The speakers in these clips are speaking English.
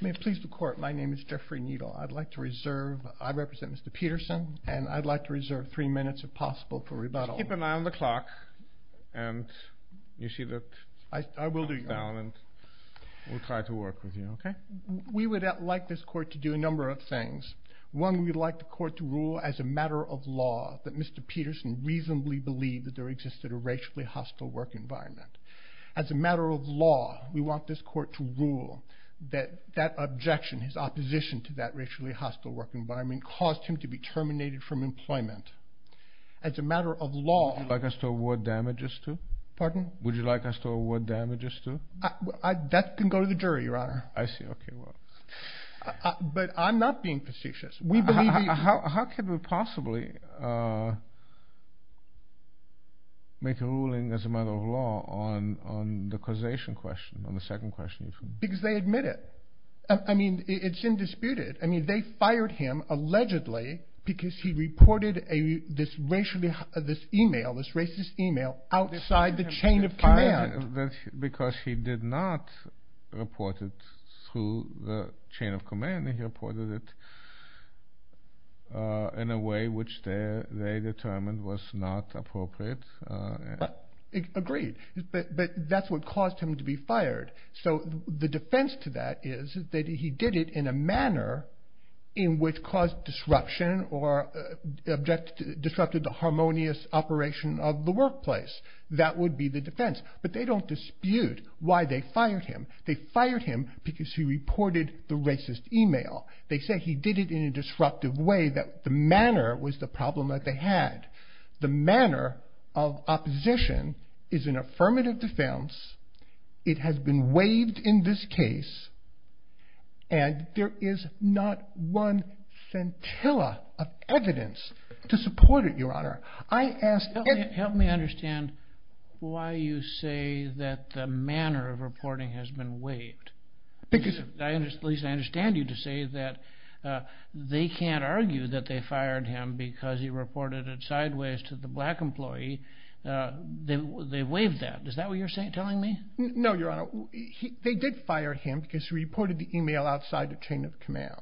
May it please the court, my name is Jeffrey Needle. I'd like to reserve, I represent Mr. Peterson, and I'd like to reserve three minutes if possible for rebuttal. Just keep an eye on the clock, and you see that... I will do your honor. We'll try to work with you, okay? We would like this court to do a number of things. One, we'd like the court to rule as a matter of law that Mr. Peterson reasonably believed that there existed a racially hostile work environment. As a matter of law, we want this court to rule that that objection, his opposition to that racially hostile work environment, caused him to be terminated from employment. As a matter of law... Would you like us to award damages to? Pardon? Would you like us to award damages to? That can go to the jury, your honor. I see, okay, well... But I'm not being facetious. We believe he... How could we possibly make a ruling as a matter of law on the causation question, on the second question? Because they admit it. I mean, it's indisputed. I mean, they fired him allegedly because he reported this email, this racist email, outside the chain of command. Because he did not report it through the chain of command, he reported it in a way which they determined was not appropriate. Agreed, but that's what caused him to be fired. So the defense to that is that he did it in a manner in which caused disruption or disrupted the harmonious operation of the workplace. That would be the defense. But they don't dispute why they fired him. They fired him because he reported the racist email. They say he did it in a disruptive way that the manner was the problem that they had. The manner of opposition is an affirmative defense. It has been waived in this case. And there is not one scintilla of evidence to support it, your honor. Help me understand why you say that the manner of reporting has been waived. Lisa, I understand you to say that they can't argue that they fired him because he reported it sideways to the black employee. They waived that. Is that what you're telling me? No, your honor. They did fire him because he reported the email outside the chain of command.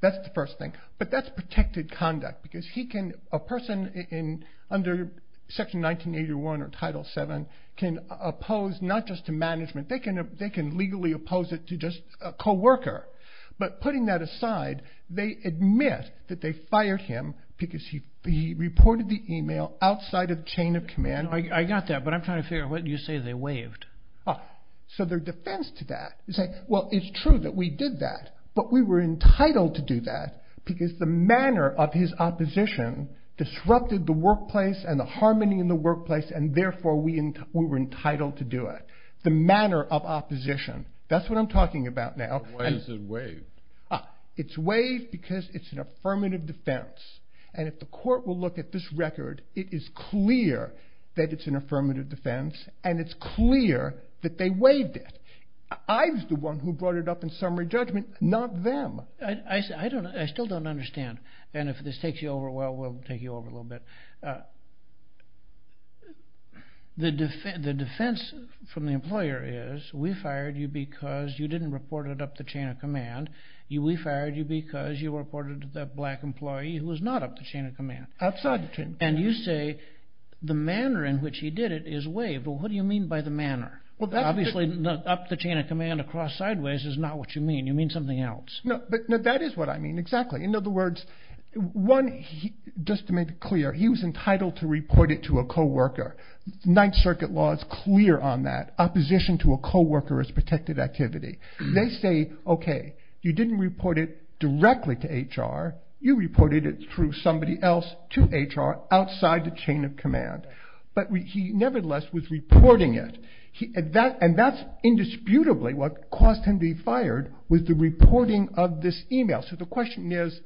That's the first thing. But that's protected conduct because he can a person in under Section 1981 or Title 7 can oppose not just to management. They can they can legally oppose it to just a coworker. But putting that aside, they admit that they fired him because he reported the email outside of the chain of command. I got that. But I'm trying to figure out what you say they waived. So their defense to that is that, well, it's true that we did that. But we were entitled to do that because the manner of his opposition disrupted the workplace and the harmony in the workplace. And therefore we were entitled to do it. The manner of opposition. That's what I'm talking about now. Why is it waived? It's waived because it's an affirmative defense. And if the court will look at this record, it is clear that it's an affirmative defense. And it's clear that they waived it. I was the one who brought it up in summary judgment, not them. I still don't understand. And if this takes you over, well, we'll take you over a little bit. The defense from the employer is we fired you because you didn't report it up the chain of command. We fired you because you reported that black employee who was not up the chain of command. Outside the chain of command. And you say the manner in which he did it is waived. Well, what do you mean by the manner? Obviously up the chain of command across sideways is not what you mean. You mean something else. No, but that is what I mean exactly. In other words, one, just to make it clear, he was entitled to report it to a co-worker. Ninth Circuit law is clear on that. Opposition to a co-worker is protected activity. They say, okay, you didn't report it directly to HR. You reported it through somebody else to HR outside the chain of command. But he nevertheless was reporting it. And that's indisputably what caused him to be fired was the reporting of this email. So the question is,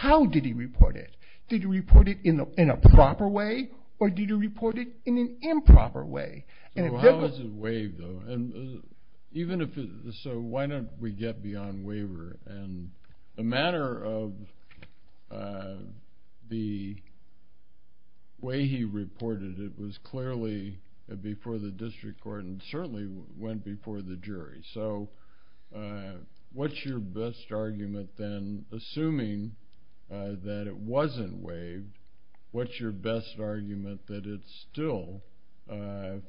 how did he report it? Did he report it in a proper way or did he report it in an improper way? How was it waived, though? So why don't we get beyond waiver? And the manner of the way he reported it was clearly before the district court and certainly went before the jury. So what's your best argument then? Assuming that it wasn't waived, what's your best argument that it still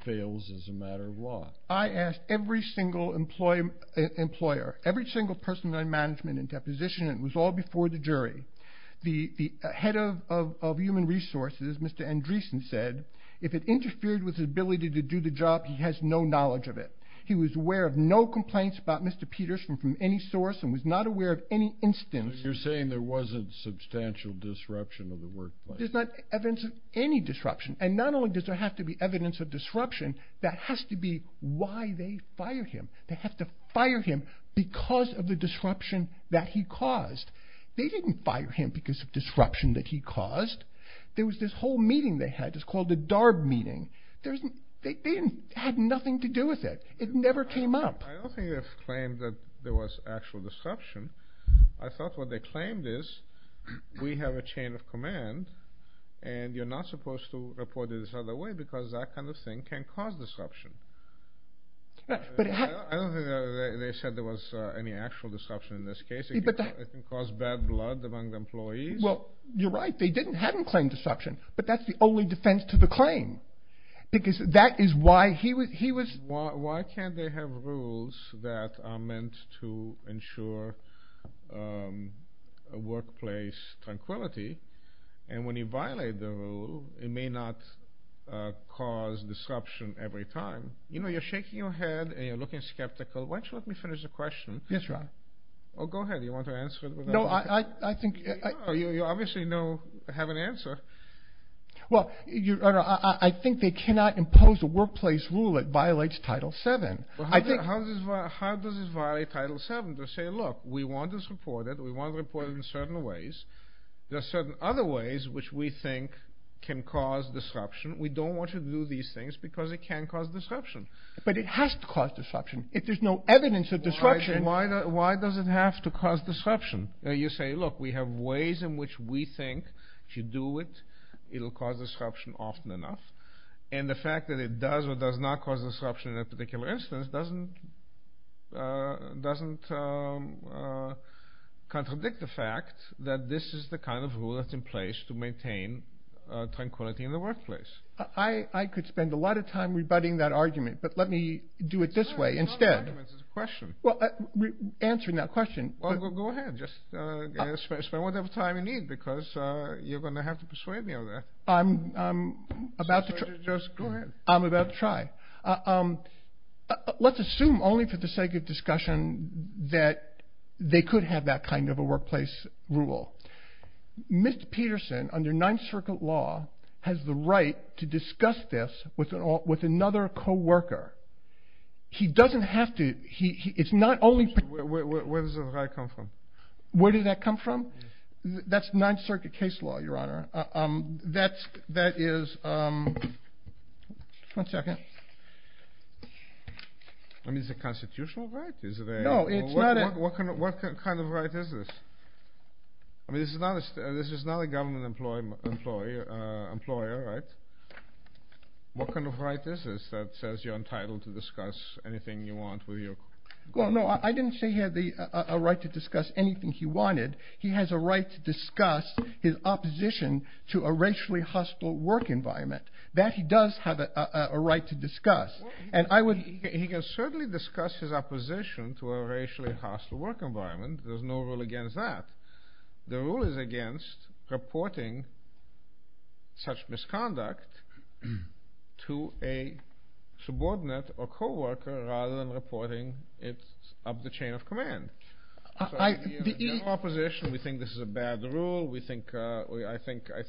fails as a matter of law? I asked every single employer, every single person in management and deposition, and it was all before the jury. The head of human resources, Mr. Andreessen, said, if it interfered with his ability to do the job, he has no knowledge of it. He was aware of no complaints about Mr. Peters from any source and was not aware of any instance. So you're saying there wasn't substantial disruption of the workplace. There's not evidence of any disruption. And not only does there have to be evidence of disruption, that has to be why they fired him. They have to fire him because of the disruption that he caused. They didn't fire him because of disruption that he caused. There was this whole meeting they had that's called the DARB meeting. They had nothing to do with it. It never came up. I don't think they've claimed that there was actual disruption. I thought what they claimed is we have a chain of command and you're not supposed to report it this other way because that kind of thing can cause disruption. I don't think they said there was any actual disruption in this case. It can cause bad blood among the employees. Well, you're right. They didn't claim disruption, but that's the only defense to the claim because that is why he was… Why can't they have rules that are meant to ensure workplace tranquility? And when you violate the rule, it may not cause disruption every time. You know, you're shaking your head and you're looking skeptical. Why don't you let me finish the question? Yes, Your Honor. Oh, go ahead. Do you want to answer it? No, I think… You obviously have an answer. Well, I think they cannot impose a workplace rule that violates Title VII. How does this violate Title VII? They say, look, we want this reported. We want to report it in certain ways. There are certain other ways which we think can cause disruption. We don't want you to do these things because it can cause disruption. But it has to cause disruption. If there's no evidence of disruption… Why does it have to cause disruption? You say, look, we have ways in which we think if you do it, it will cause disruption often enough. And the fact that it does or does not cause disruption in a particular instance doesn't contradict the fact that this is the kind of rule that's in place to maintain tranquility in the workplace. I could spend a lot of time rebutting that argument, but let me do it this way instead. It's not an argument, it's a question. Well, answering that question… Well, go ahead. Just spend whatever time you need because you're going to have to persuade me of that. I'm about to try. Just go ahead. I'm about to try. Let's assume only for the sake of discussion that they could have that kind of a workplace rule. Mr. Peterson, under Ninth Circuit law, has the right to discuss this with another co-worker. He doesn't have to. Where does the right come from? Where did that come from? That's Ninth Circuit case law, Your Honor. That is… One second. I mean, is it a constitutional right? No, it's not a… What kind of right is this? I mean, this is not a government employer, right? What kind of right is this that says you're entitled to discuss anything you want with your… Well, no, I didn't say he had a right to discuss anything he wanted. He has a right to discuss his opposition to a racially hostile work environment. That he does have a right to discuss, and I would… He can certainly discuss his opposition to a racially hostile work environment. There's no rule against that. The rule is against reporting such misconduct to a subordinate or co-worker rather than reporting it up the chain of command. I… Opposition, we think this is a bad rule. We think… I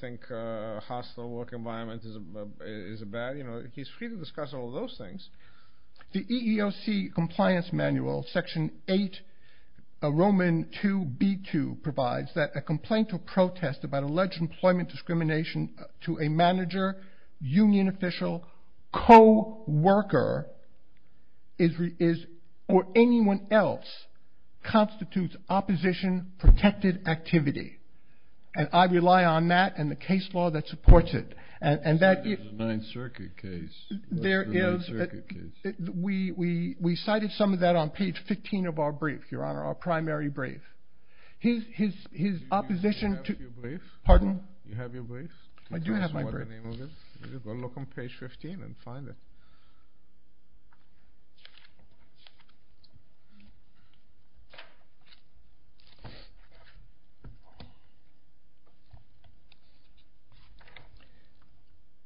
think hostile work environment is bad. He's free to discuss all those things. The EEOC compliance manual, section 8, Roman 2b2, provides that a complaint or protest about alleged employment discrimination to a manager, union official, co-worker, or anyone else constitutes opposition-protected activity. And I rely on that and the case law that supports it. And that… It's a Ninth Circuit case. There is… It's a Ninth Circuit case. We cited some of that on page 15 of our brief, Your Honor, our primary brief. His opposition to… Do you have your brief? Do you have your brief? I do have my brief. Tell us what the name of it is. You've got to look on page 15 and find it.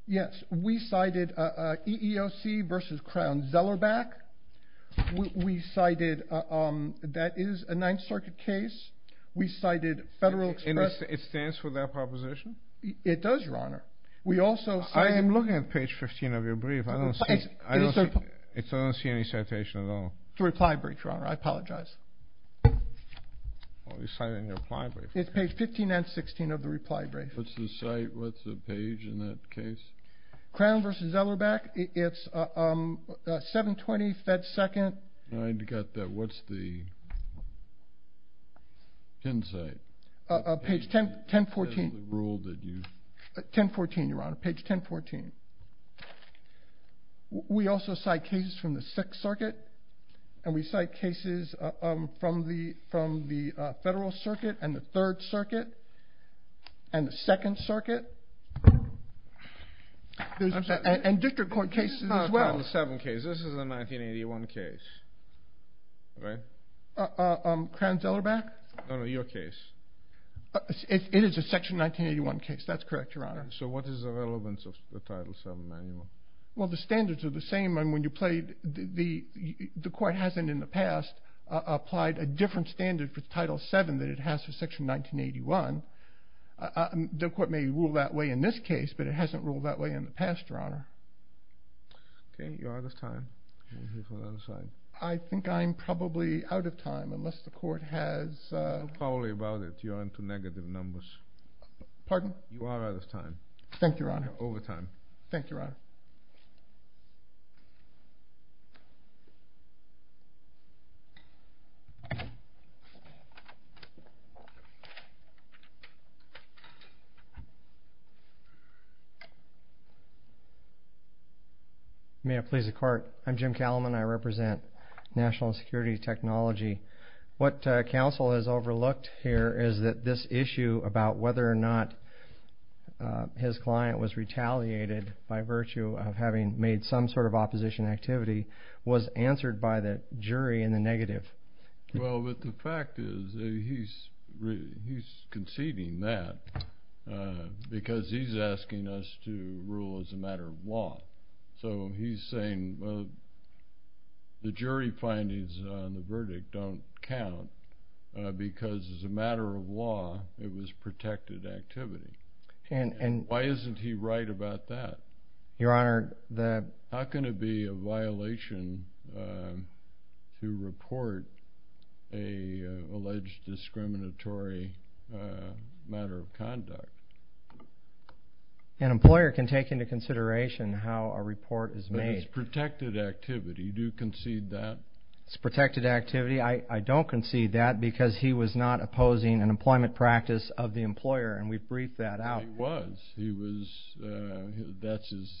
Yes. We cited EEOC versus Crown-Zellerbach. We cited… That is a Ninth Circuit case. We cited Federal Express… And it stands for that proposition? It does, Your Honor. We also cited… I am looking at page 15 of your brief. I don't see… I don't see the citation at all. It's a reply brief, Your Honor. I apologize. Well, you cited in your reply brief. It's page 15 and 16 of the reply brief. What's the site? What's the page in that case? Crown versus Zellerbach. It's 720 Fed Second. I got that. What's the pin site? Page 1014. That's the rule that you… 1014, Your Honor. Page 1014. We also cite cases from the Sixth Circuit, and we cite cases from the Federal Circuit and the Third Circuit and the Second Circuit, and District Court cases as well. This is not a Crown v. Seven case. This is a 1981 case, right? Crown-Zellerbach? No, no, your case. It is a Section 1981 case. That's correct, Your Honor. So what is the relevance of the Title VII manual? Well, the standards are the same. When you played, the court hasn't in the past applied a different standard for Title VII than it has for Section 1981. The court may rule that way in this case, but it hasn't ruled that way in the past, Your Honor. Okay. You're out of time. Let me hear from the other side. I think I'm probably out of time, unless the court has… Tell me about it. You're into negative numbers. Pardon? You are out of time. Thank you, Your Honor. You're over time. Thank you, Your Honor. May it please the Court. I'm Jim Calamon. I represent National Security Technology. What counsel has overlooked here is that this issue about whether or not his client was retaliated by virtue of having made some sort of opposition activity was answered by the jury in the negative. Well, but the fact is he's conceding that because he's asking us to rule as a matter of law. So he's saying the jury findings on the verdict don't count because as a matter of law, it was protected activity. Why isn't he right about that? Your Honor, the… How can it be a violation to report an alleged discriminatory matter of conduct? An employer can take into consideration how a report is made. But it's protected activity. Do you concede that? It's protected activity. I don't concede that because he was not opposing an employment practice of the employer, and we've briefed that out. He was. He was. That's his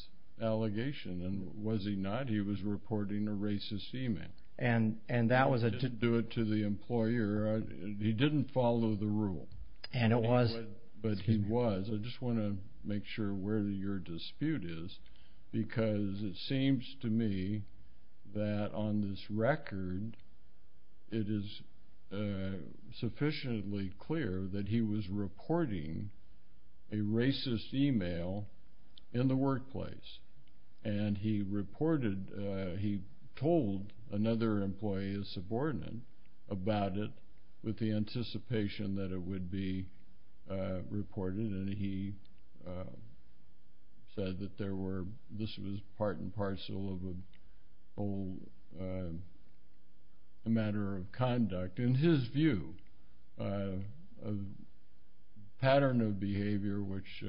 allegation. And was he not? He was reporting a racist email. And that was a… He didn't do it to the employer. He didn't follow the rule. And it was… But he was. I just want to make sure where your dispute is because it seems to me that on this record, it is sufficiently clear that he was reporting a racist email in the workplace. And he reported… He told another employee, a subordinate, about it with the anticipation that it would be reported, and he said that this was part and parcel of a matter of conduct. In his view, a pattern of behavior, which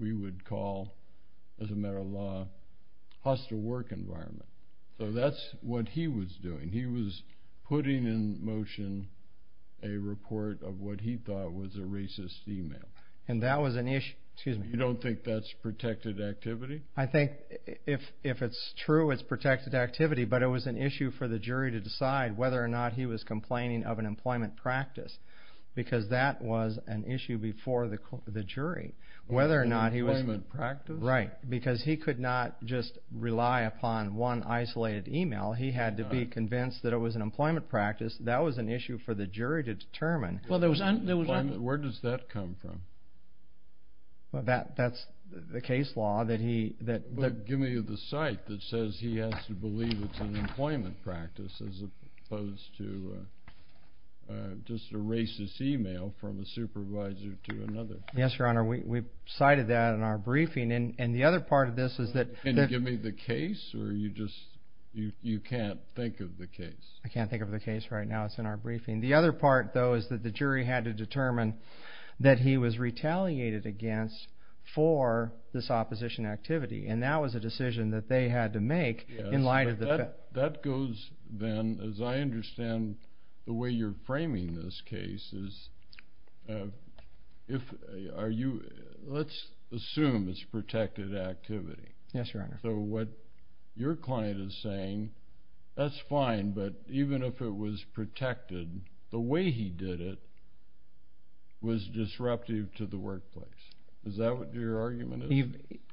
we would call, as a matter of law, hostile work environment. So that's what he was doing. He was putting in motion a report of what he thought was a racist email. And that was an issue. Excuse me. You don't think that's protected activity? I think if it's true, it's protected activity. But it was an issue for the jury to decide whether or not he was complaining of an employment practice because that was an issue before the jury. Whether or not he was… An employment practice? Right. Because he could not just rely upon one isolated email. He had to be convinced that it was an employment practice. That was an issue for the jury to determine. Where does that come from? That's the case law that he… Give me the cite that says he has to believe it's an employment practice as opposed to just a racist email from a supervisor to another. Yes, Your Honor. We cited that in our briefing. And the other part of this is that… Can you give me the case? Or you just can't think of the case? I can't think of the case right now. It's in our briefing. The other part, though, is that the jury had to determine that he was retaliated against for this opposition activity. And that was a decision that they had to make in light of the… That goes, then, as I understand, the way you're framing this case is… Are you… Let's assume it's protected activity. Yes, Your Honor. So what your client is saying, that's fine. But even if it was protected, the way he did it was disruptive to the workplace. Is that what your argument is?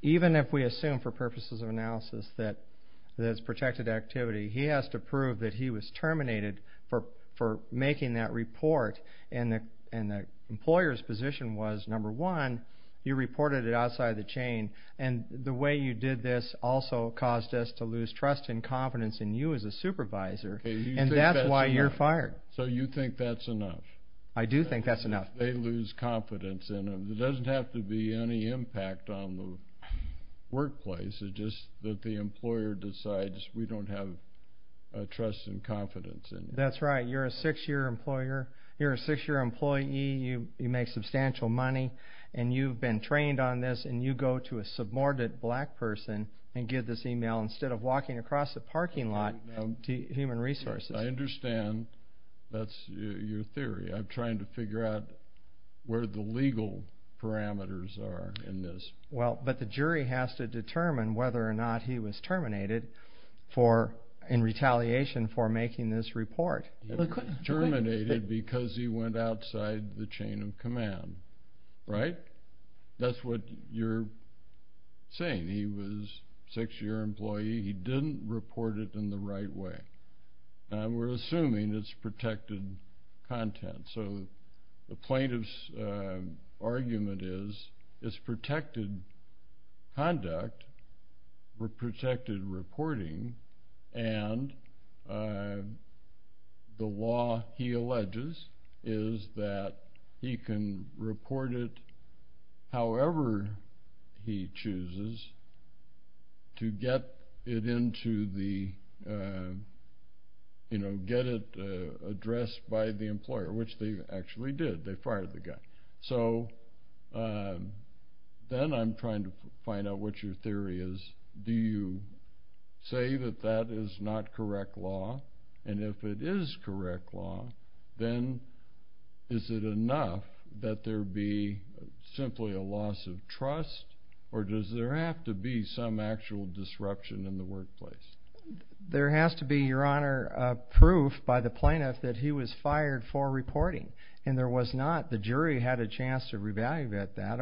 Even if we assume for purposes of analysis that it's protected activity, he has to prove that he was terminated for making that report. And the employer's position was, number one, you reported it outside the chain. And the way you did this also caused us to lose trust and confidence in you as a supervisor, and that's why you're fired. So you think that's enough? I do think that's enough. They lose confidence in them. It doesn't have to be any impact on the workplace. It's just that the employer decides we don't have trust and confidence in them. That's right. You're a six-year employer. You're a six-year employee. You make substantial money, and you've been trained on this, and you go to a subordinate black person and give this email instead of walking across the parking lot to Human Resources. I understand that's your theory. I'm trying to figure out where the legal parameters are in this. Well, but the jury has to determine whether or not he was terminated in retaliation for making this report. Terminated because he went outside the chain of command, right? That's what you're saying. You're saying he was a six-year employee. He didn't report it in the right way. We're assuming it's protected content. So the plaintiff's argument is it's protected conduct or protected reporting, and the law he alleges is that he can report it however he chooses to get it addressed by the employer, which they actually did. They fired the guy. So then I'm trying to find out what your theory is. Do you say that that is not correct law, and if it is correct law, then is it enough that there be simply a loss of trust, or does there have to be some actual disruption in the workplace? There has to be, Your Honor, proof by the plaintiff that he was fired for reporting, and there was not. The jury had a chance to re-evaluate that.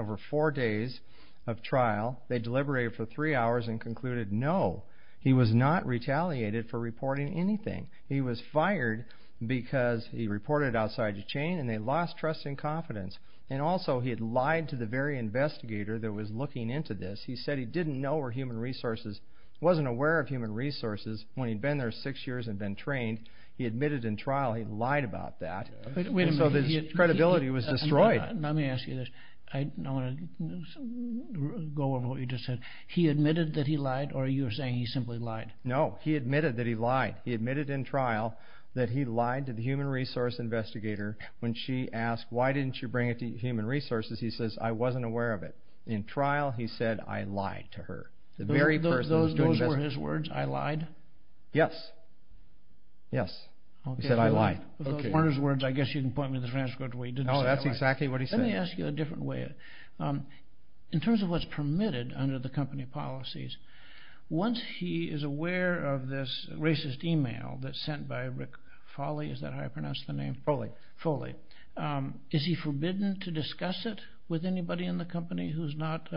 of trial. They deliberated for three hours and concluded, no, he was not retaliated for reporting anything. He was fired because he reported outside the chain, and they lost trust and confidence, and also he had lied to the very investigator that was looking into this. He said he didn't know where human resources, wasn't aware of human resources when he'd been there six years and been trained. He admitted in trial he'd lied about that, so his credibility was destroyed. Let me ask you this. I'm going to go over what you just said. He admitted that he lied, or you're saying he simply lied? No, he admitted that he lied. He admitted in trial that he lied to the human resource investigator. When she asked, why didn't you bring it to human resources, he says, I wasn't aware of it. In trial, he said, I lied to her. Those were his words, I lied? Yes. Yes. He said, I lied. Those weren't his words. I guess you can point me to the transcript where he didn't say that. No, that's exactly what he said. Let me ask you a different way. In terms of what's permitted under the company policies, once he is aware of this racist email that's sent by Rick Foley, is that how you pronounce the name? Foley. Foley. Is he forbidden to discuss it with anybody in the company who's not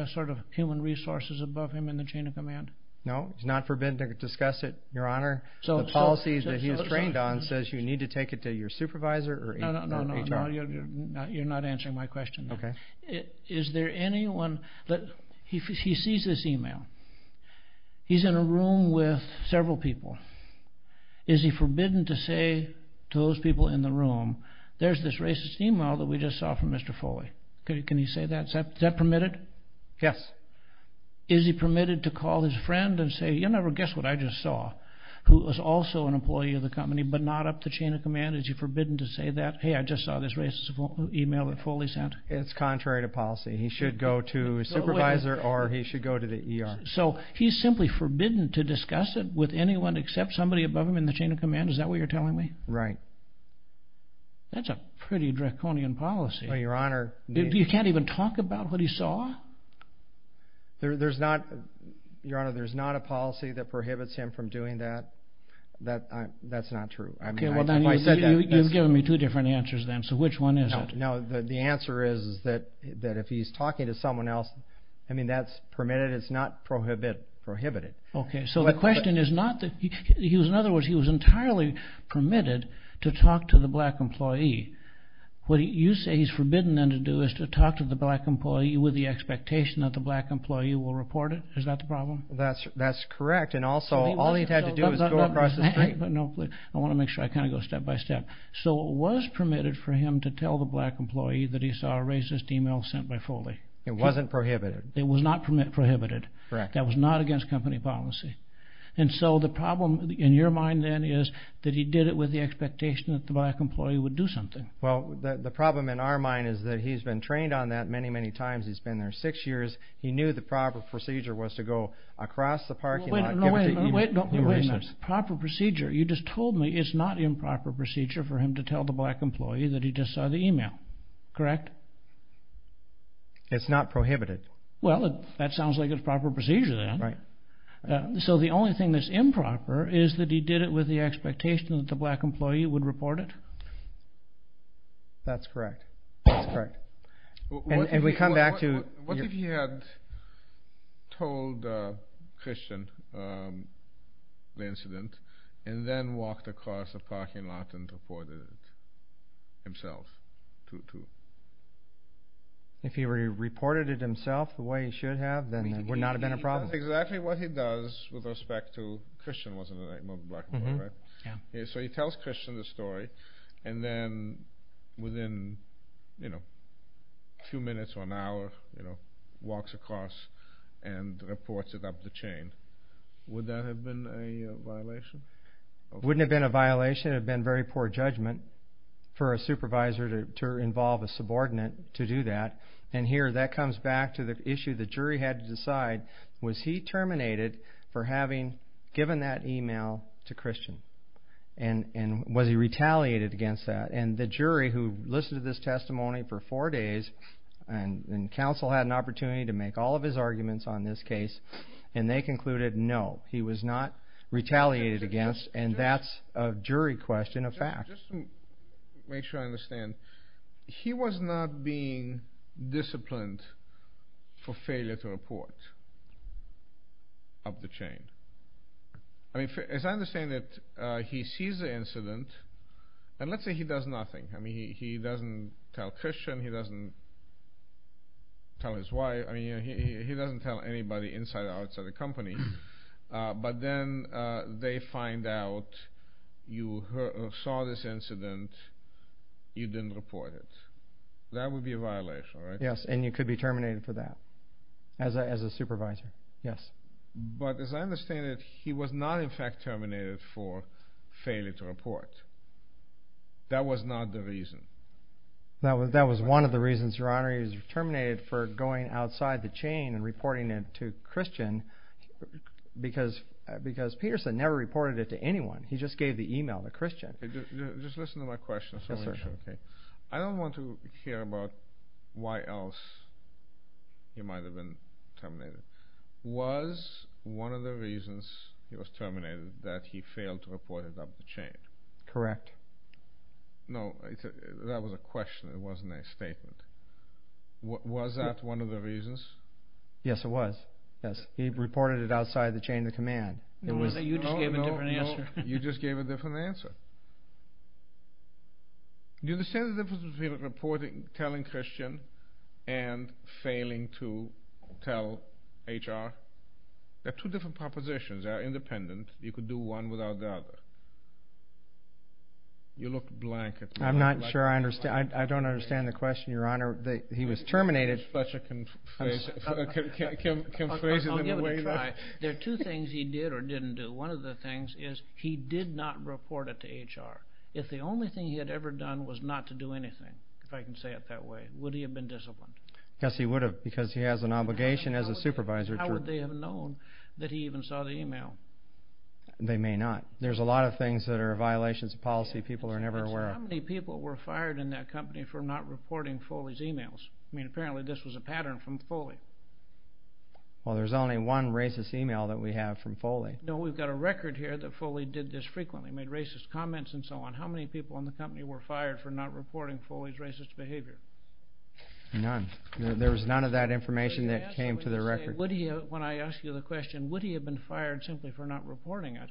human resources above him in the chain of command? No, he's not forbidden to discuss it, Your Honor. The policies that he's trained on says you need to take it to your supervisor or HR. No, no, no. You're not answering my question. Okay. Is there anyone that he sees this email, he's in a room with several people, is he forbidden to say to those people in the room, there's this racist email that we just saw from Mr. Foley. Can he say that? Is that permitted? Yes. Is he permitted to call his friend and say, you'll never guess what I just saw, who was also an employee of the company but not up the chain of command, is he forbidden to say that? Hey, I just saw this racist email that Foley sent. It's contrary to policy. He should go to his supervisor or he should go to the ER. So he's simply forbidden to discuss it with anyone except somebody above him in the chain of command, is that what you're telling me? Right. That's a pretty draconian policy. Well, Your Honor. You can't even talk about what he saw? There's not, Your Honor, there's not a policy that prohibits him from doing that. That's not true. You've given me two different answers then. So which one is it? No, the answer is that if he's talking to someone else, I mean, that's permitted. It's not prohibited. Okay. So the question is not that he was, in other words, he was entirely permitted to talk to the black employee. What you say he's forbidden then to do is to talk to the black employee with the expectation that the black employee will report it. Is that the problem? That's correct. And also, all he's had to do is go across the street. I want to make sure I kind of go step by step. So it was permitted for him to tell the black employee that he saw a racist email sent by Foley. It wasn't prohibited. It was not prohibited. Correct. That was not against company policy. And so the problem in your mind then is that he did it with the expectation that the black employee would do something. Well, the problem in our mind is that he's been trained on that many, many times. He's been there six years. He knew the proper procedure was to go across the parking lot. Wait a minute. Proper procedure. You just told me it's not improper procedure for him to tell the black employee that he just saw the email. Correct? It's not prohibited. Well, that sounds like it's proper procedure then. Right. So the only thing that's improper is that he did it with the expectation that the black employee would report it? That's correct. That's correct. What if he had told Christian the incident and then walked across the parking lot and reported it himself? If he reported it himself the way he should have, then it would not have been a problem. That's exactly what he does with respect to Christian wasn't a black employee, right? So he tells Christian the story and then within a few minutes or an hour walks across and reports it up the chain. Would that have been a violation? It wouldn't have been a violation. It would have been very poor judgment for a supervisor to involve a subordinate to do that. And here that comes back to the issue the jury had to decide, was he terminated for having given that email to Christian? And was he retaliated against that? And the jury who listened to this testimony for four days and counsel had an opportunity to make all of his arguments on this case and they concluded no, he was not retaliated against and that's a jury question, a fact. Just to make sure I understand, he was not being disciplined for failure to report up the chain. As I understand it, he sees the incident and let's say he does nothing. He doesn't tell Christian, he doesn't tell his wife, he doesn't tell anybody inside or outside the company but then they find out you saw this incident, you didn't report it. That would be a violation, right? Yes, and you could be terminated for that as a supervisor, yes. But as I understand it, he was not in fact terminated for failure to report. That was not the reason. That was one of the reasons, Your Honor, he was terminated for going outside the chain and reporting it to Christian because Peterson never reported it to anyone. He just gave the email to Christian. Just listen to my question. I don't want to hear about why else he might have been terminated. Was one of the reasons he was terminated that he failed to report it up the chain? Correct. No, that was a question, it wasn't a statement. Was that one of the reasons? Yes, it was. Yes, he reported it outside the chain of command. No, you just gave a different answer. You just gave a different answer. Do you understand the difference between reporting, telling Christian and failing to tell HR? They're two different propositions. They're independent. You could do one without the other. You look blank. I'm not sure I understand. I don't understand the question, Your Honor. He was terminated. I'll give it a try. There are two things he did or didn't do. One of the things is he did not report it to HR. If the only thing he had ever done was not to do anything, if I can say it that way, would he have been disciplined? Yes, he would have because he has an obligation as a supervisor. How would they have known that he even saw the e-mail? They may not. There's a lot of things that are violations of policy people are never aware of. How many people were fired in that company for not reporting Foley's e-mails? I mean, apparently this was a pattern from Foley. Well, there's only one racist e-mail that we have from Foley. No, we've got a record here that Foley did this frequently, made racist comments and so on. How many people in the company were fired for not reporting Foley's racist behavior? None. There was none of that information that came to the record. When I ask you the question, would he have been fired simply for not reporting it,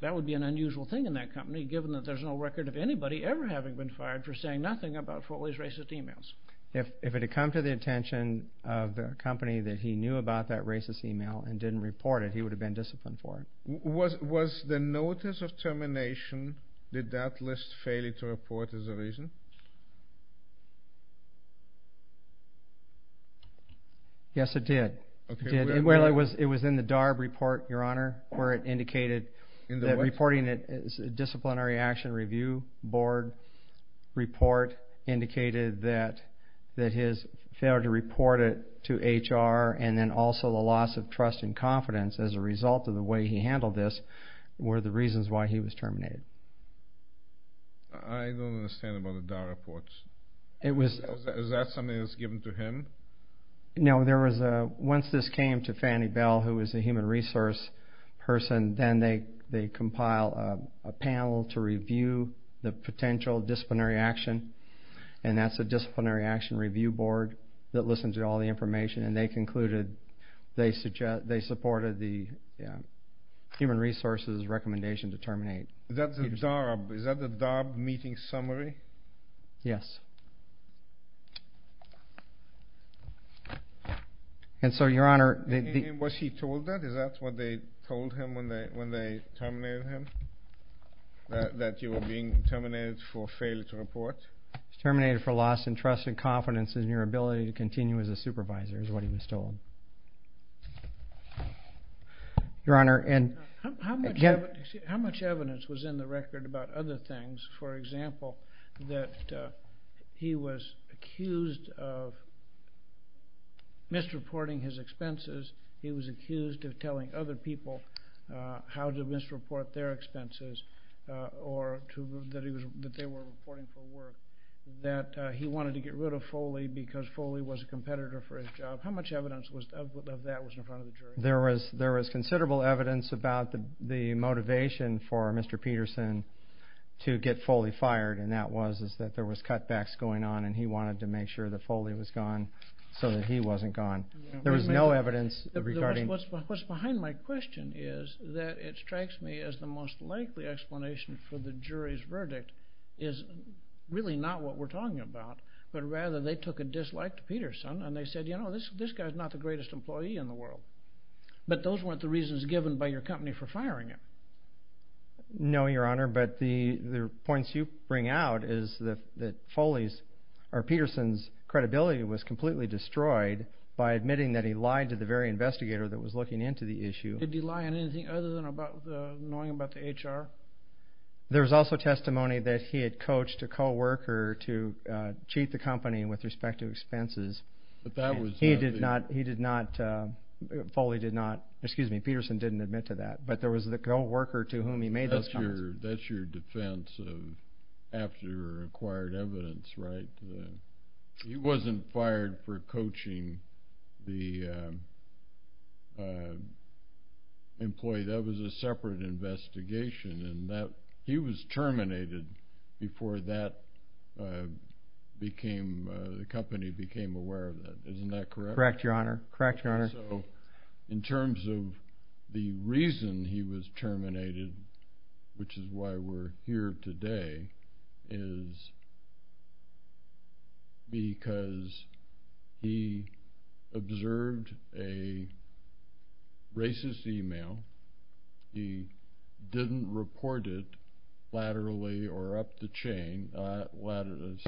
that would be an unusual thing in that company given that there's no record of anybody ever having been fired for saying nothing about Foley's racist e-mails. If it had come to the attention of the company that he knew about that racist e-mail and didn't report it, he would have been disciplined for it. Was the notice of termination, did that list fail you to report as a reason? Yes, it did. It was in the DARB report, Your Honor, where it indicated that reporting it, the Disciplinary Action Review Board report indicated that his failure to report it to HR and then also the loss of trust and confidence as a result of the way he handled this were the reasons why he was terminated. I don't understand about the DARB reports. Is that something that was given to him? No. Once this came to Fannie Bell, who is a human resource person, then they compile a panel to review the potential disciplinary action, and that's the Disciplinary Action Review Board that listens to all the information, and they concluded they supported the human resources recommendation to terminate. Is that the DARB meeting summary? Yes. And so, Your Honor, the— Was he told that? Is that what they told him when they terminated him, that you were being terminated for failure to report? He was terminated for loss in trust and confidence and your ability to continue as a supervisor is what he was told. Your Honor, and— How much evidence was in the record about other things? For example, that he was accused of misreporting his expenses, he was accused of telling other people how to misreport their expenses or that they were reporting for work, that he wanted to get rid of Foley because Foley was a competitor for his job. How much evidence of that was in front of the jury? There was considerable evidence about the motivation for Mr. Peterson to get Foley fired, and that was that there was cutbacks going on and he wanted to make sure that Foley was gone so that he wasn't gone. There was no evidence regarding— What's behind my question is that it strikes me as the most likely explanation for the jury's verdict is really not what we're talking about, but rather they took a dislike to Peterson and they said, you know, this guy's not the greatest employee in the world, but those weren't the reasons given by your company for firing him. No, Your Honor, but the points you bring out is that Foley's— or Peterson's credibility was completely destroyed by admitting that he lied to the very investigator that was looking into the issue. Did he lie on anything other than knowing about the HR? There was also testimony that he had coached a co-worker to cheat the company with respect to expenses. He did not—Foley did not—excuse me, Peterson didn't admit to that, but there was the co-worker to whom he made those comments. That's your defense of after acquired evidence, right? He wasn't fired for coaching the employee. That was a separate investigation. He was terminated before the company became aware of that. Isn't that correct? Correct, Your Honor. Correct, Your Honor. So in terms of the reason he was terminated, which is why we're here today, is because he observed a racist email. He didn't report it laterally or up the chain—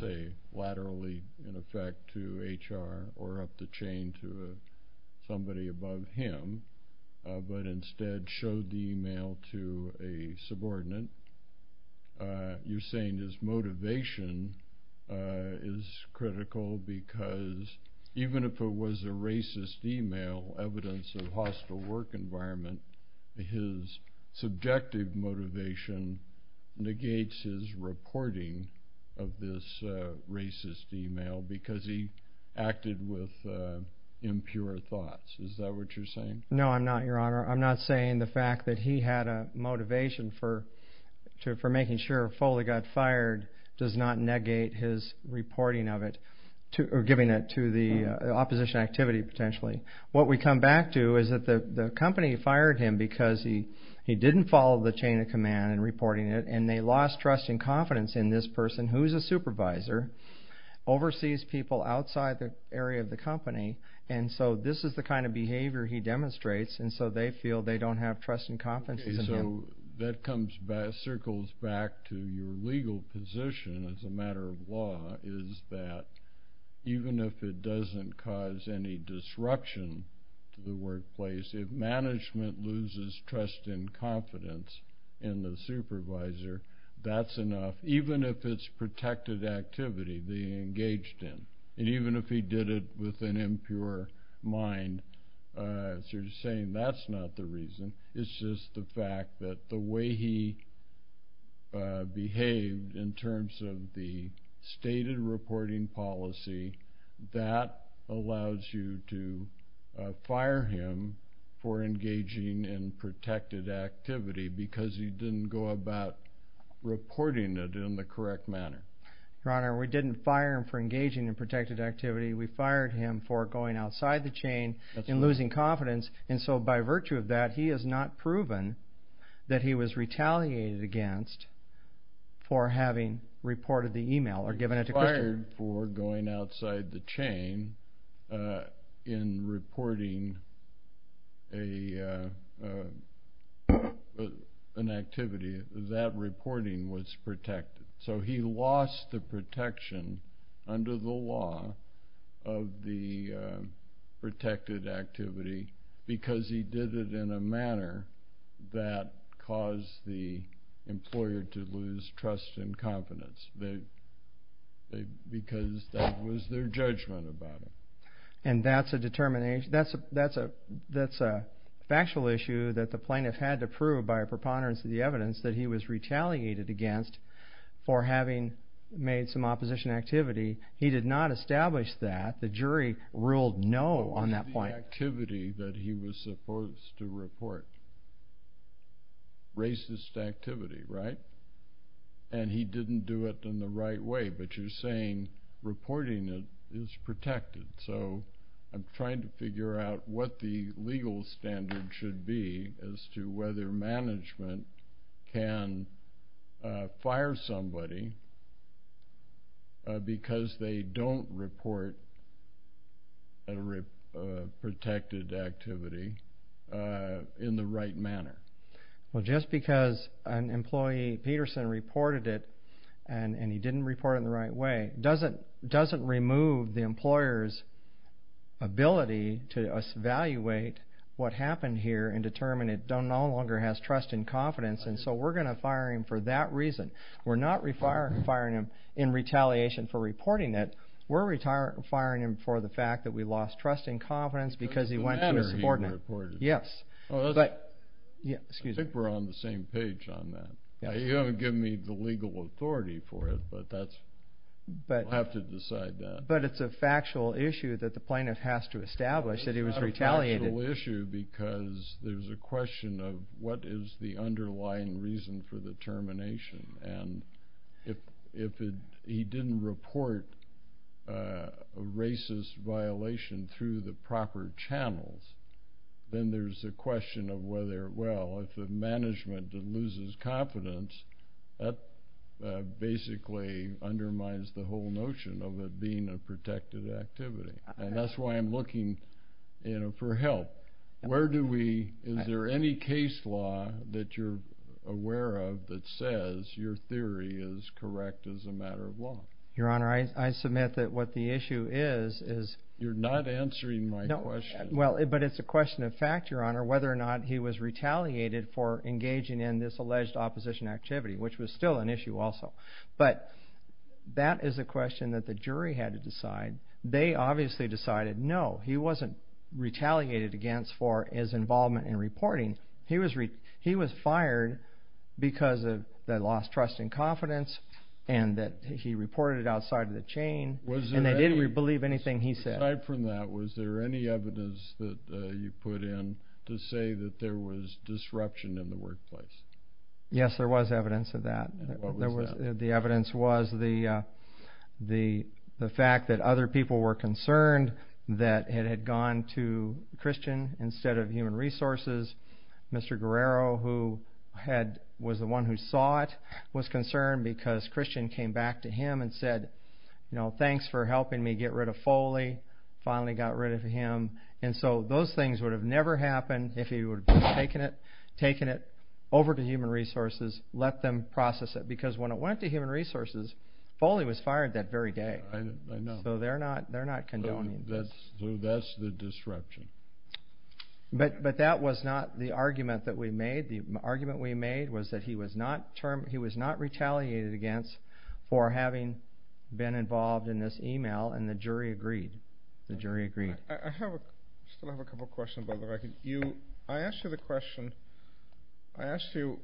say laterally, in effect, to HR or up the chain to somebody above him, but instead showed the email to a subordinate. You're saying his motivation is critical because even if it was a racist email, evidence of hostile work environment, his subjective motivation negates his reporting of this racist email because he acted with impure thoughts. Is that what you're saying? No, I'm not, Your Honor. I'm not saying the fact that he had a motivation for making sure Foley got fired does not negate his reporting of it or giving it to the opposition activity, potentially. What we come back to is that the company fired him because he didn't follow the chain of command in reporting it, and they lost trust and confidence in this person, who is a supervisor, oversees people outside the area of the company, and so this is the kind of behavior he demonstrates, and so they feel they don't have trust and confidence in him. Okay, so that circles back to your legal position as a matter of law, is that even if it doesn't cause any disruption to the workplace, if management loses trust and confidence in the supervisor, that's enough. Even if it's protected activity they engaged in, and even if he did it with an impure mind, as you're saying, that's not the reason. It's just the fact that the way he behaved in terms of the stated reporting policy, that allows you to fire him for engaging in protected activity because he didn't go about reporting it in the correct manner. Your Honor, we didn't fire him for engaging in protected activity. We fired him for going outside the chain and losing confidence, and so by virtue of that he has not proven that he was retaliated against for having reported the email or given it to Christian. We fired him for going outside the chain in reporting an activity. That reporting was protected, so he lost the protection under the law of the protected activity because he did it in a manner that caused the employer to lose trust and confidence. Because that was their judgment about him. And that's a factual issue that the plaintiff had to prove by a preponderance of the evidence that he was retaliated against for having made some opposition activity. He did not establish that. The jury ruled no on that point. It was the activity that he was supposed to report. Racist activity, right? And he didn't do it in the right way, but you're saying reporting it is protected. So I'm trying to figure out what the legal standard should be as to whether management can fire somebody because they don't report a protected activity in the right manner. Well, just because an employee, Peterson, reported it and he didn't report it in the right way doesn't remove the employer's ability to evaluate what happened here and determine it no longer has trust and confidence, and so we're going to fire him for that reason. We're not firing him in retaliation for reporting it. We're firing him for the fact that we lost trust and confidence because he went too subordinate. I think we're on the same page on that. You haven't given me the legal authority for it, but we'll have to decide that. But it's a factual issue that the plaintiff has to establish that he was retaliated. It's not a factual issue because there's a question of what is the underlying reason for the termination, and if he didn't report a racist violation through the proper channels, then there's a question of whether, well, if the management loses confidence, that basically undermines the whole notion of it being a protected activity, and that's why I'm looking for help. Is there any case law that you're aware of that says your theory is correct as a matter of law? Your Honor, I submit that what the issue is is— You're not answering my question. Well, but it's a question of fact, Your Honor, whether or not he was retaliated for engaging in this alleged opposition activity, which was still an issue also. But that is a question that the jury had to decide. They obviously decided, no, he wasn't retaliated against for his involvement in reporting. He was fired because they lost trust and confidence and that he reported it outside of the chain, and they didn't believe anything he said. Aside from that, was there any evidence that you put in to say that there was disruption in the workplace? Yes, there was evidence of that. What was that? The evidence was the fact that other people were concerned that it had gone to Christian instead of Human Resources. Mr. Guerrero, who was the one who saw it, was concerned because Christian came back to him and said, you know, thanks for helping me get rid of Foley, finally got rid of him. And so those things would have never happened if he would have taken it over to Human Resources, let them process it. Because when it went to Human Resources, Foley was fired that very day. I know. So they're not condoning this. So that's the disruption. But that was not the argument that we made. The argument we made was that he was not retaliated against for having been involved in this email, and the jury agreed. The jury agreed. I still have a couple of questions, by the way. I asked you the question, I asked you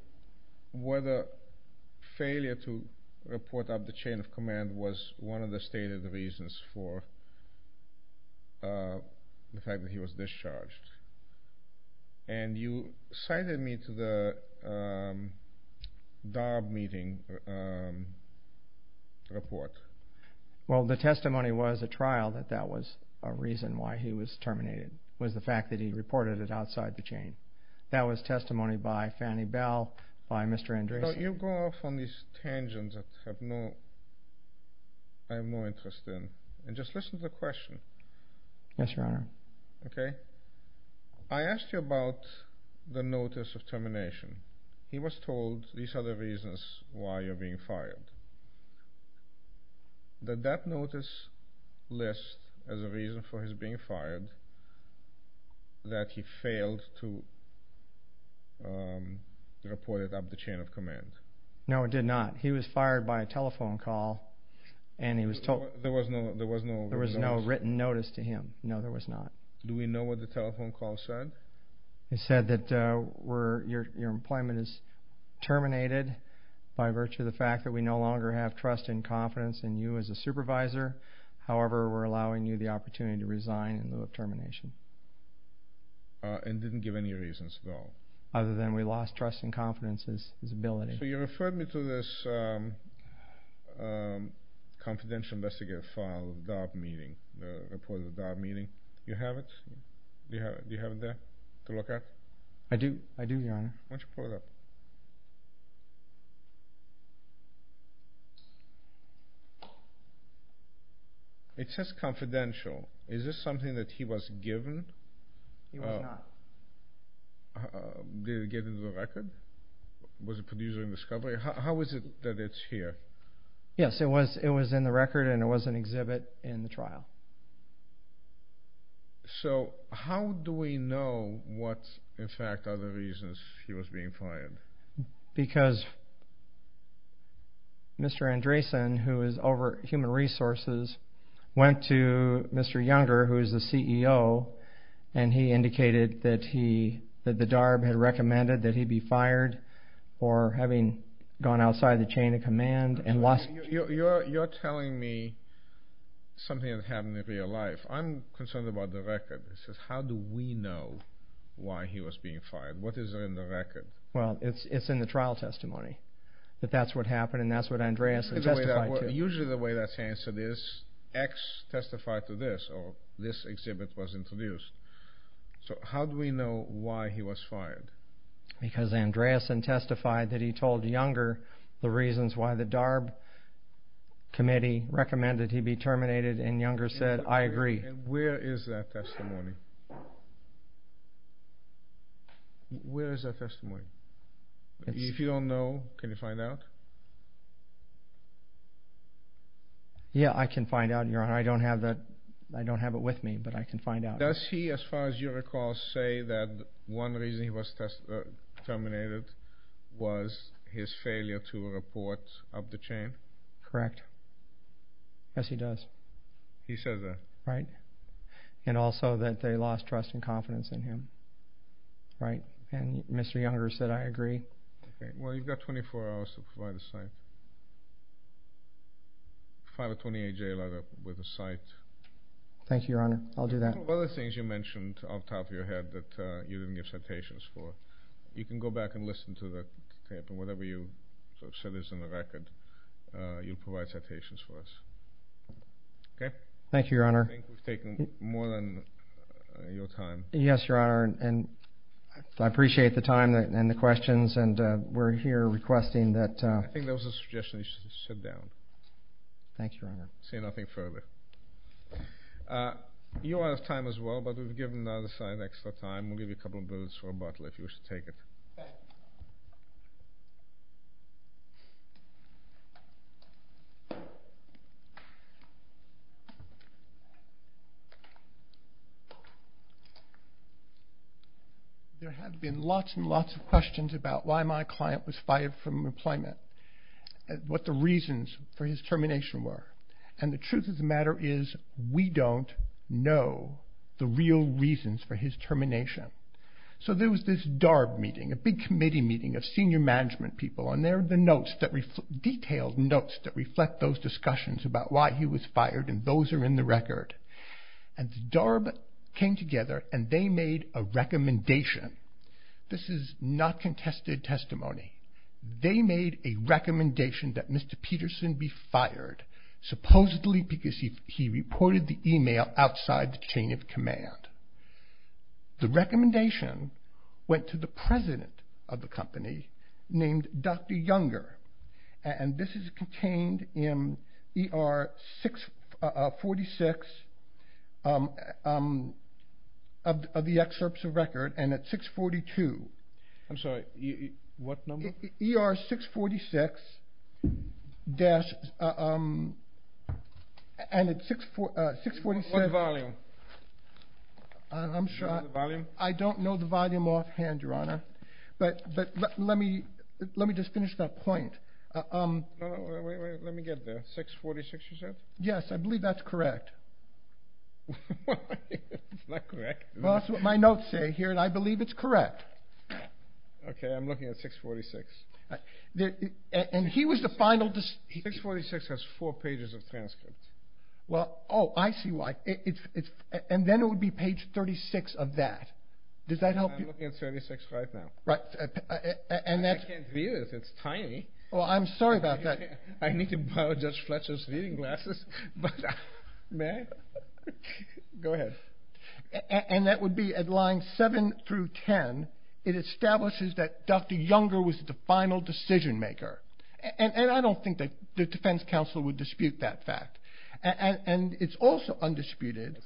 whether failure to report up the chain of command was one of the stated reasons for the fact that he was discharged. And you cited me to the DAB meeting report. Well, the testimony was a trial, that that was a reason why he was terminated, was the fact that he reported it outside the chain. That was testimony by Fannie Bell, by Mr. Andreessen. Don't you go off on these tangents that I have no interest in. And just listen to the question. Yes, Your Honor. Okay? I asked you about the notice of termination. He was told these are the reasons why you're being fired. Did that notice list as a reason for his being fired that he failed to report it up the chain of command? No, it did not. He was fired by a telephone call. There was no written notice? There was no written notice to him. No, there was not. Do we know what the telephone call said? It said that your employment is terminated by virtue of the fact that we no longer have trust and confidence in you as a supervisor. However, we're allowing you the opportunity to resign in lieu of termination. And didn't give any reasons at all? Other than we lost trust and confidence in his ability. So you referred me to this confidential investigative file of the DAB meeting, the report of the DAB meeting. Do you have it? Do you have it there to look at? I do, Your Honor. Why don't you pull it up? It says confidential. Is this something that he was given? He was not. Did it get into the record? Was it produced during discovery? How is it that it's here? So how do we know what, in fact, are the reasons he was being fired? Because Mr. Andresen, who is over at Human Resources, went to Mr. Younger, who is the CEO, and he indicated that the DAB had recommended that he be fired for having gone outside the chain of command and lost... You're telling me something that happened in real life. I'm concerned about the record. It says, how do we know why he was being fired? What is in the record? Well, it's in the trial testimony that that's what happened and that's what Andresen testified to. Usually the way that's answered is X testified to this or this exhibit was introduced. So how do we know why he was fired? Because Andresen testified that he told Younger the reasons why the DARB committee recommended he be terminated, and Younger said, I agree. And where is that testimony? Where is that testimony? If you don't know, can you find out? Yeah, I can find out, Your Honor. I don't have it with me, but I can find out. Does he, as far as you recall, say that one reason he was terminated was his failure to report up the chain? Correct. Yes, he does. He says that? Right. And also that they lost trust and confidence in him. Right. And Mr. Younger said, I agree. Okay. Well, you've got 24 hours to provide a cite. File a 28-J letter with a cite. Thank you, Your Honor. I'll do that. What are the things you mentioned off the top of your head that you didn't give citations for? You can go back and listen to the tape, and whatever you sort of said is on the record, you'll provide citations for us. Okay? Thank you, Your Honor. I think we've taken more than your time. Yes, Your Honor, and I appreciate the time and the questions, and we're here requesting that... I think that was a suggestion that you should sit down. Thank you, Your Honor. Say nothing further. You're out of time as well, but we've given the other side extra time. We'll give you a couple of minutes for a bottle if you wish to take it. There have been lots and lots of questions about why my client was fired from employment, what the reasons for his termination were, and the truth of the matter is we don't know the real reasons for his termination. So there was this DARB meeting, a big committee meeting of senior management people, and there are the detailed notes that reflect those discussions about why he was fired, and those are in the record. And the DARB came together, and they made a recommendation. This is not contested testimony. They made a recommendation that Mr. Peterson be fired, supposedly because he reported the email outside the chain of command. The recommendation went to the president of the company named Dr. Younger, and this is contained in ER 646 of the excerpts of record, and at 642... I'm sorry, what number? ER 646-... And at 647... What volume? I don't know the volume offhand, Your Honor, but let me just finish that point. Let me get there. 646, you said? Yes, I believe that's correct. It's not correct. That's what my notes say here, and I believe it's correct. Okay, I'm looking at 646. And he was the final... 646 has four pages of transcripts. Oh, I see why. And then it would be page 36 of that. I'm looking at 36 right now. I can't read it. It's tiny. Well, I'm sorry about that. I need to borrow Judge Fletcher's reading glasses. May I? Go ahead. And that would be at lines 7 through 10, it establishes that Dr. Younger was the final decision-maker. And I don't think the defense counsel would dispute that fact. And it's also undisputed...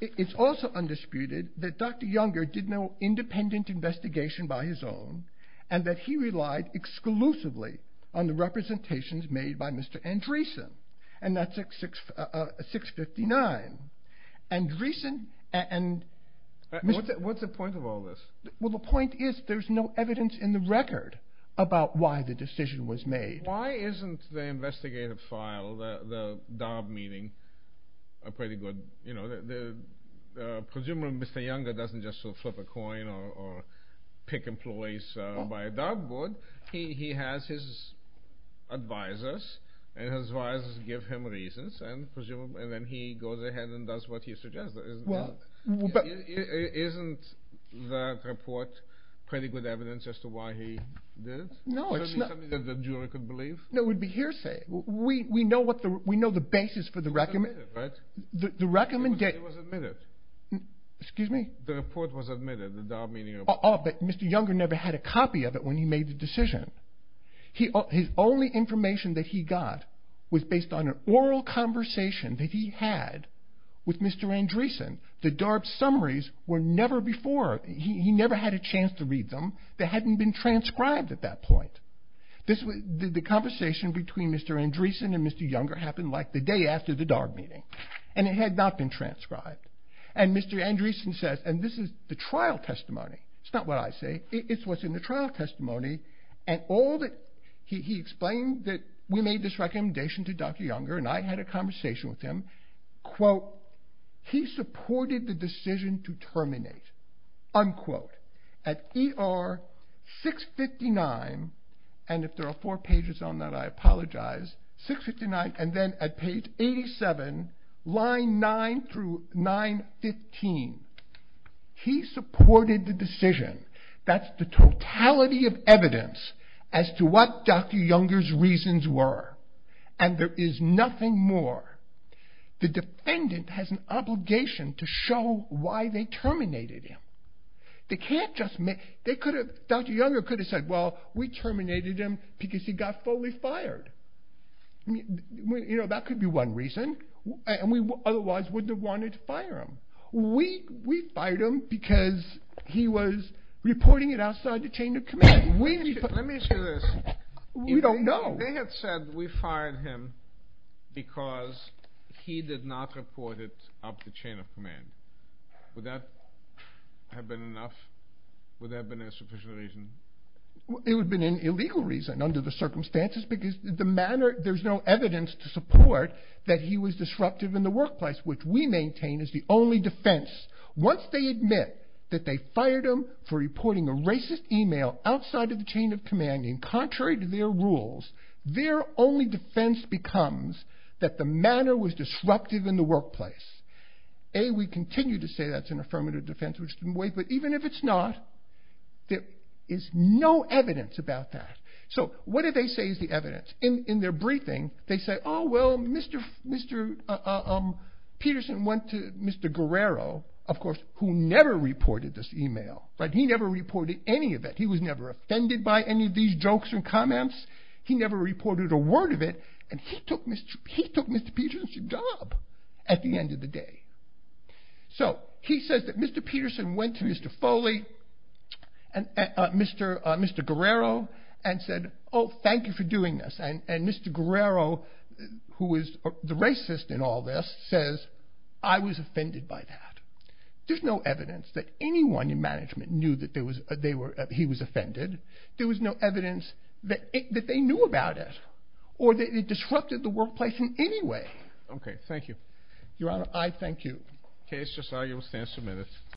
It's also undisputed that Dr. Younger did no independent investigation by his own, and that he relied exclusively on the representations made by Mr. Andreessen, and that's at 659. Andreessen and... What's the point of all this? Well, the point is there's no evidence in the record about why the decision was made. Why isn't the investigative file, the DAB meeting, a pretty good... Presumably Mr. Younger doesn't just flip a coin or pick employees by a DAB board. He has his advisors, and his advisors give him reasons, and then he goes ahead and does what he suggests. Well, but... Isn't that report pretty good evidence as to why he did it? No, it's not. Something that the jury could believe? No, it would be hearsay. We know the basis for the recommendation. It was admitted, right? It was admitted. Excuse me? The report was admitted, the DAB meeting. Oh, but Mr. Younger never had a copy of it when he made the decision. His only information that he got was based on an oral conversation that he had with Mr. Andreessen. The DAB summaries were never before... He never had a chance to read them. They hadn't been transcribed at that point. The conversation between Mr. Andreessen and Mr. Younger happened like the day after the DAB meeting, and it had not been transcribed. And Mr. Andreessen says, and this is the trial testimony. It's not what I say. It's what's in the trial testimony, and all that... He explained that we made this recommendation to Dr. Younger, and I had a conversation with him. Quote, he supported the decision to terminate. Unquote. At ER 659, and if there are four pages on that, I apologize, 659, and then at page 87, line 9 through 915, he supported the decision. That's the totality of evidence as to what Dr. Younger's reasons were, and there is nothing more. The defendant has an obligation to show why they terminated him. They can't just make... Dr. Younger could have said, well, we terminated him because he got fully fired. You know, that could be one reason, and we otherwise wouldn't have wanted to fire him. We fired him because he was reporting it outside the chain of command. Let me say this. We don't know. If they had said we fired him because he did not report it out of the chain of command, would that have been enough? Would that have been a sufficient reason? It would have been an illegal reason, under the circumstances, because there's no evidence to support that he was disruptive in the workplace, which we maintain is the only defense. Once they admit that they fired him for reporting a racist email outside of the chain of command, and contrary to their rules, their only defense becomes that the manner was disruptive in the workplace. A, we continue to say that's an affirmative defense, but even if it's not, there is no evidence about that. What do they say is the evidence? In their briefing, they say, Mr. Peterson went to Mr. Guerrero, of course, who never reported this email. He never reported any of it. He was never offended by any of these jokes and comments. He never reported a word of it, and he took Mr. Peterson's job at the end of the day. He says that Mr. Peterson went to Mr. Foley, Mr. Guerrero, and said, oh, thank you for doing this. And Mr. Guerrero, who was the racist in all this, says, I was offended by that. There's no evidence that anyone in management knew that he was offended. There was no evidence that they knew about it, or that it disrupted the workplace in any way. Okay, thank you. Your Honor, I thank you. Okay, it's just argument stands for minutes.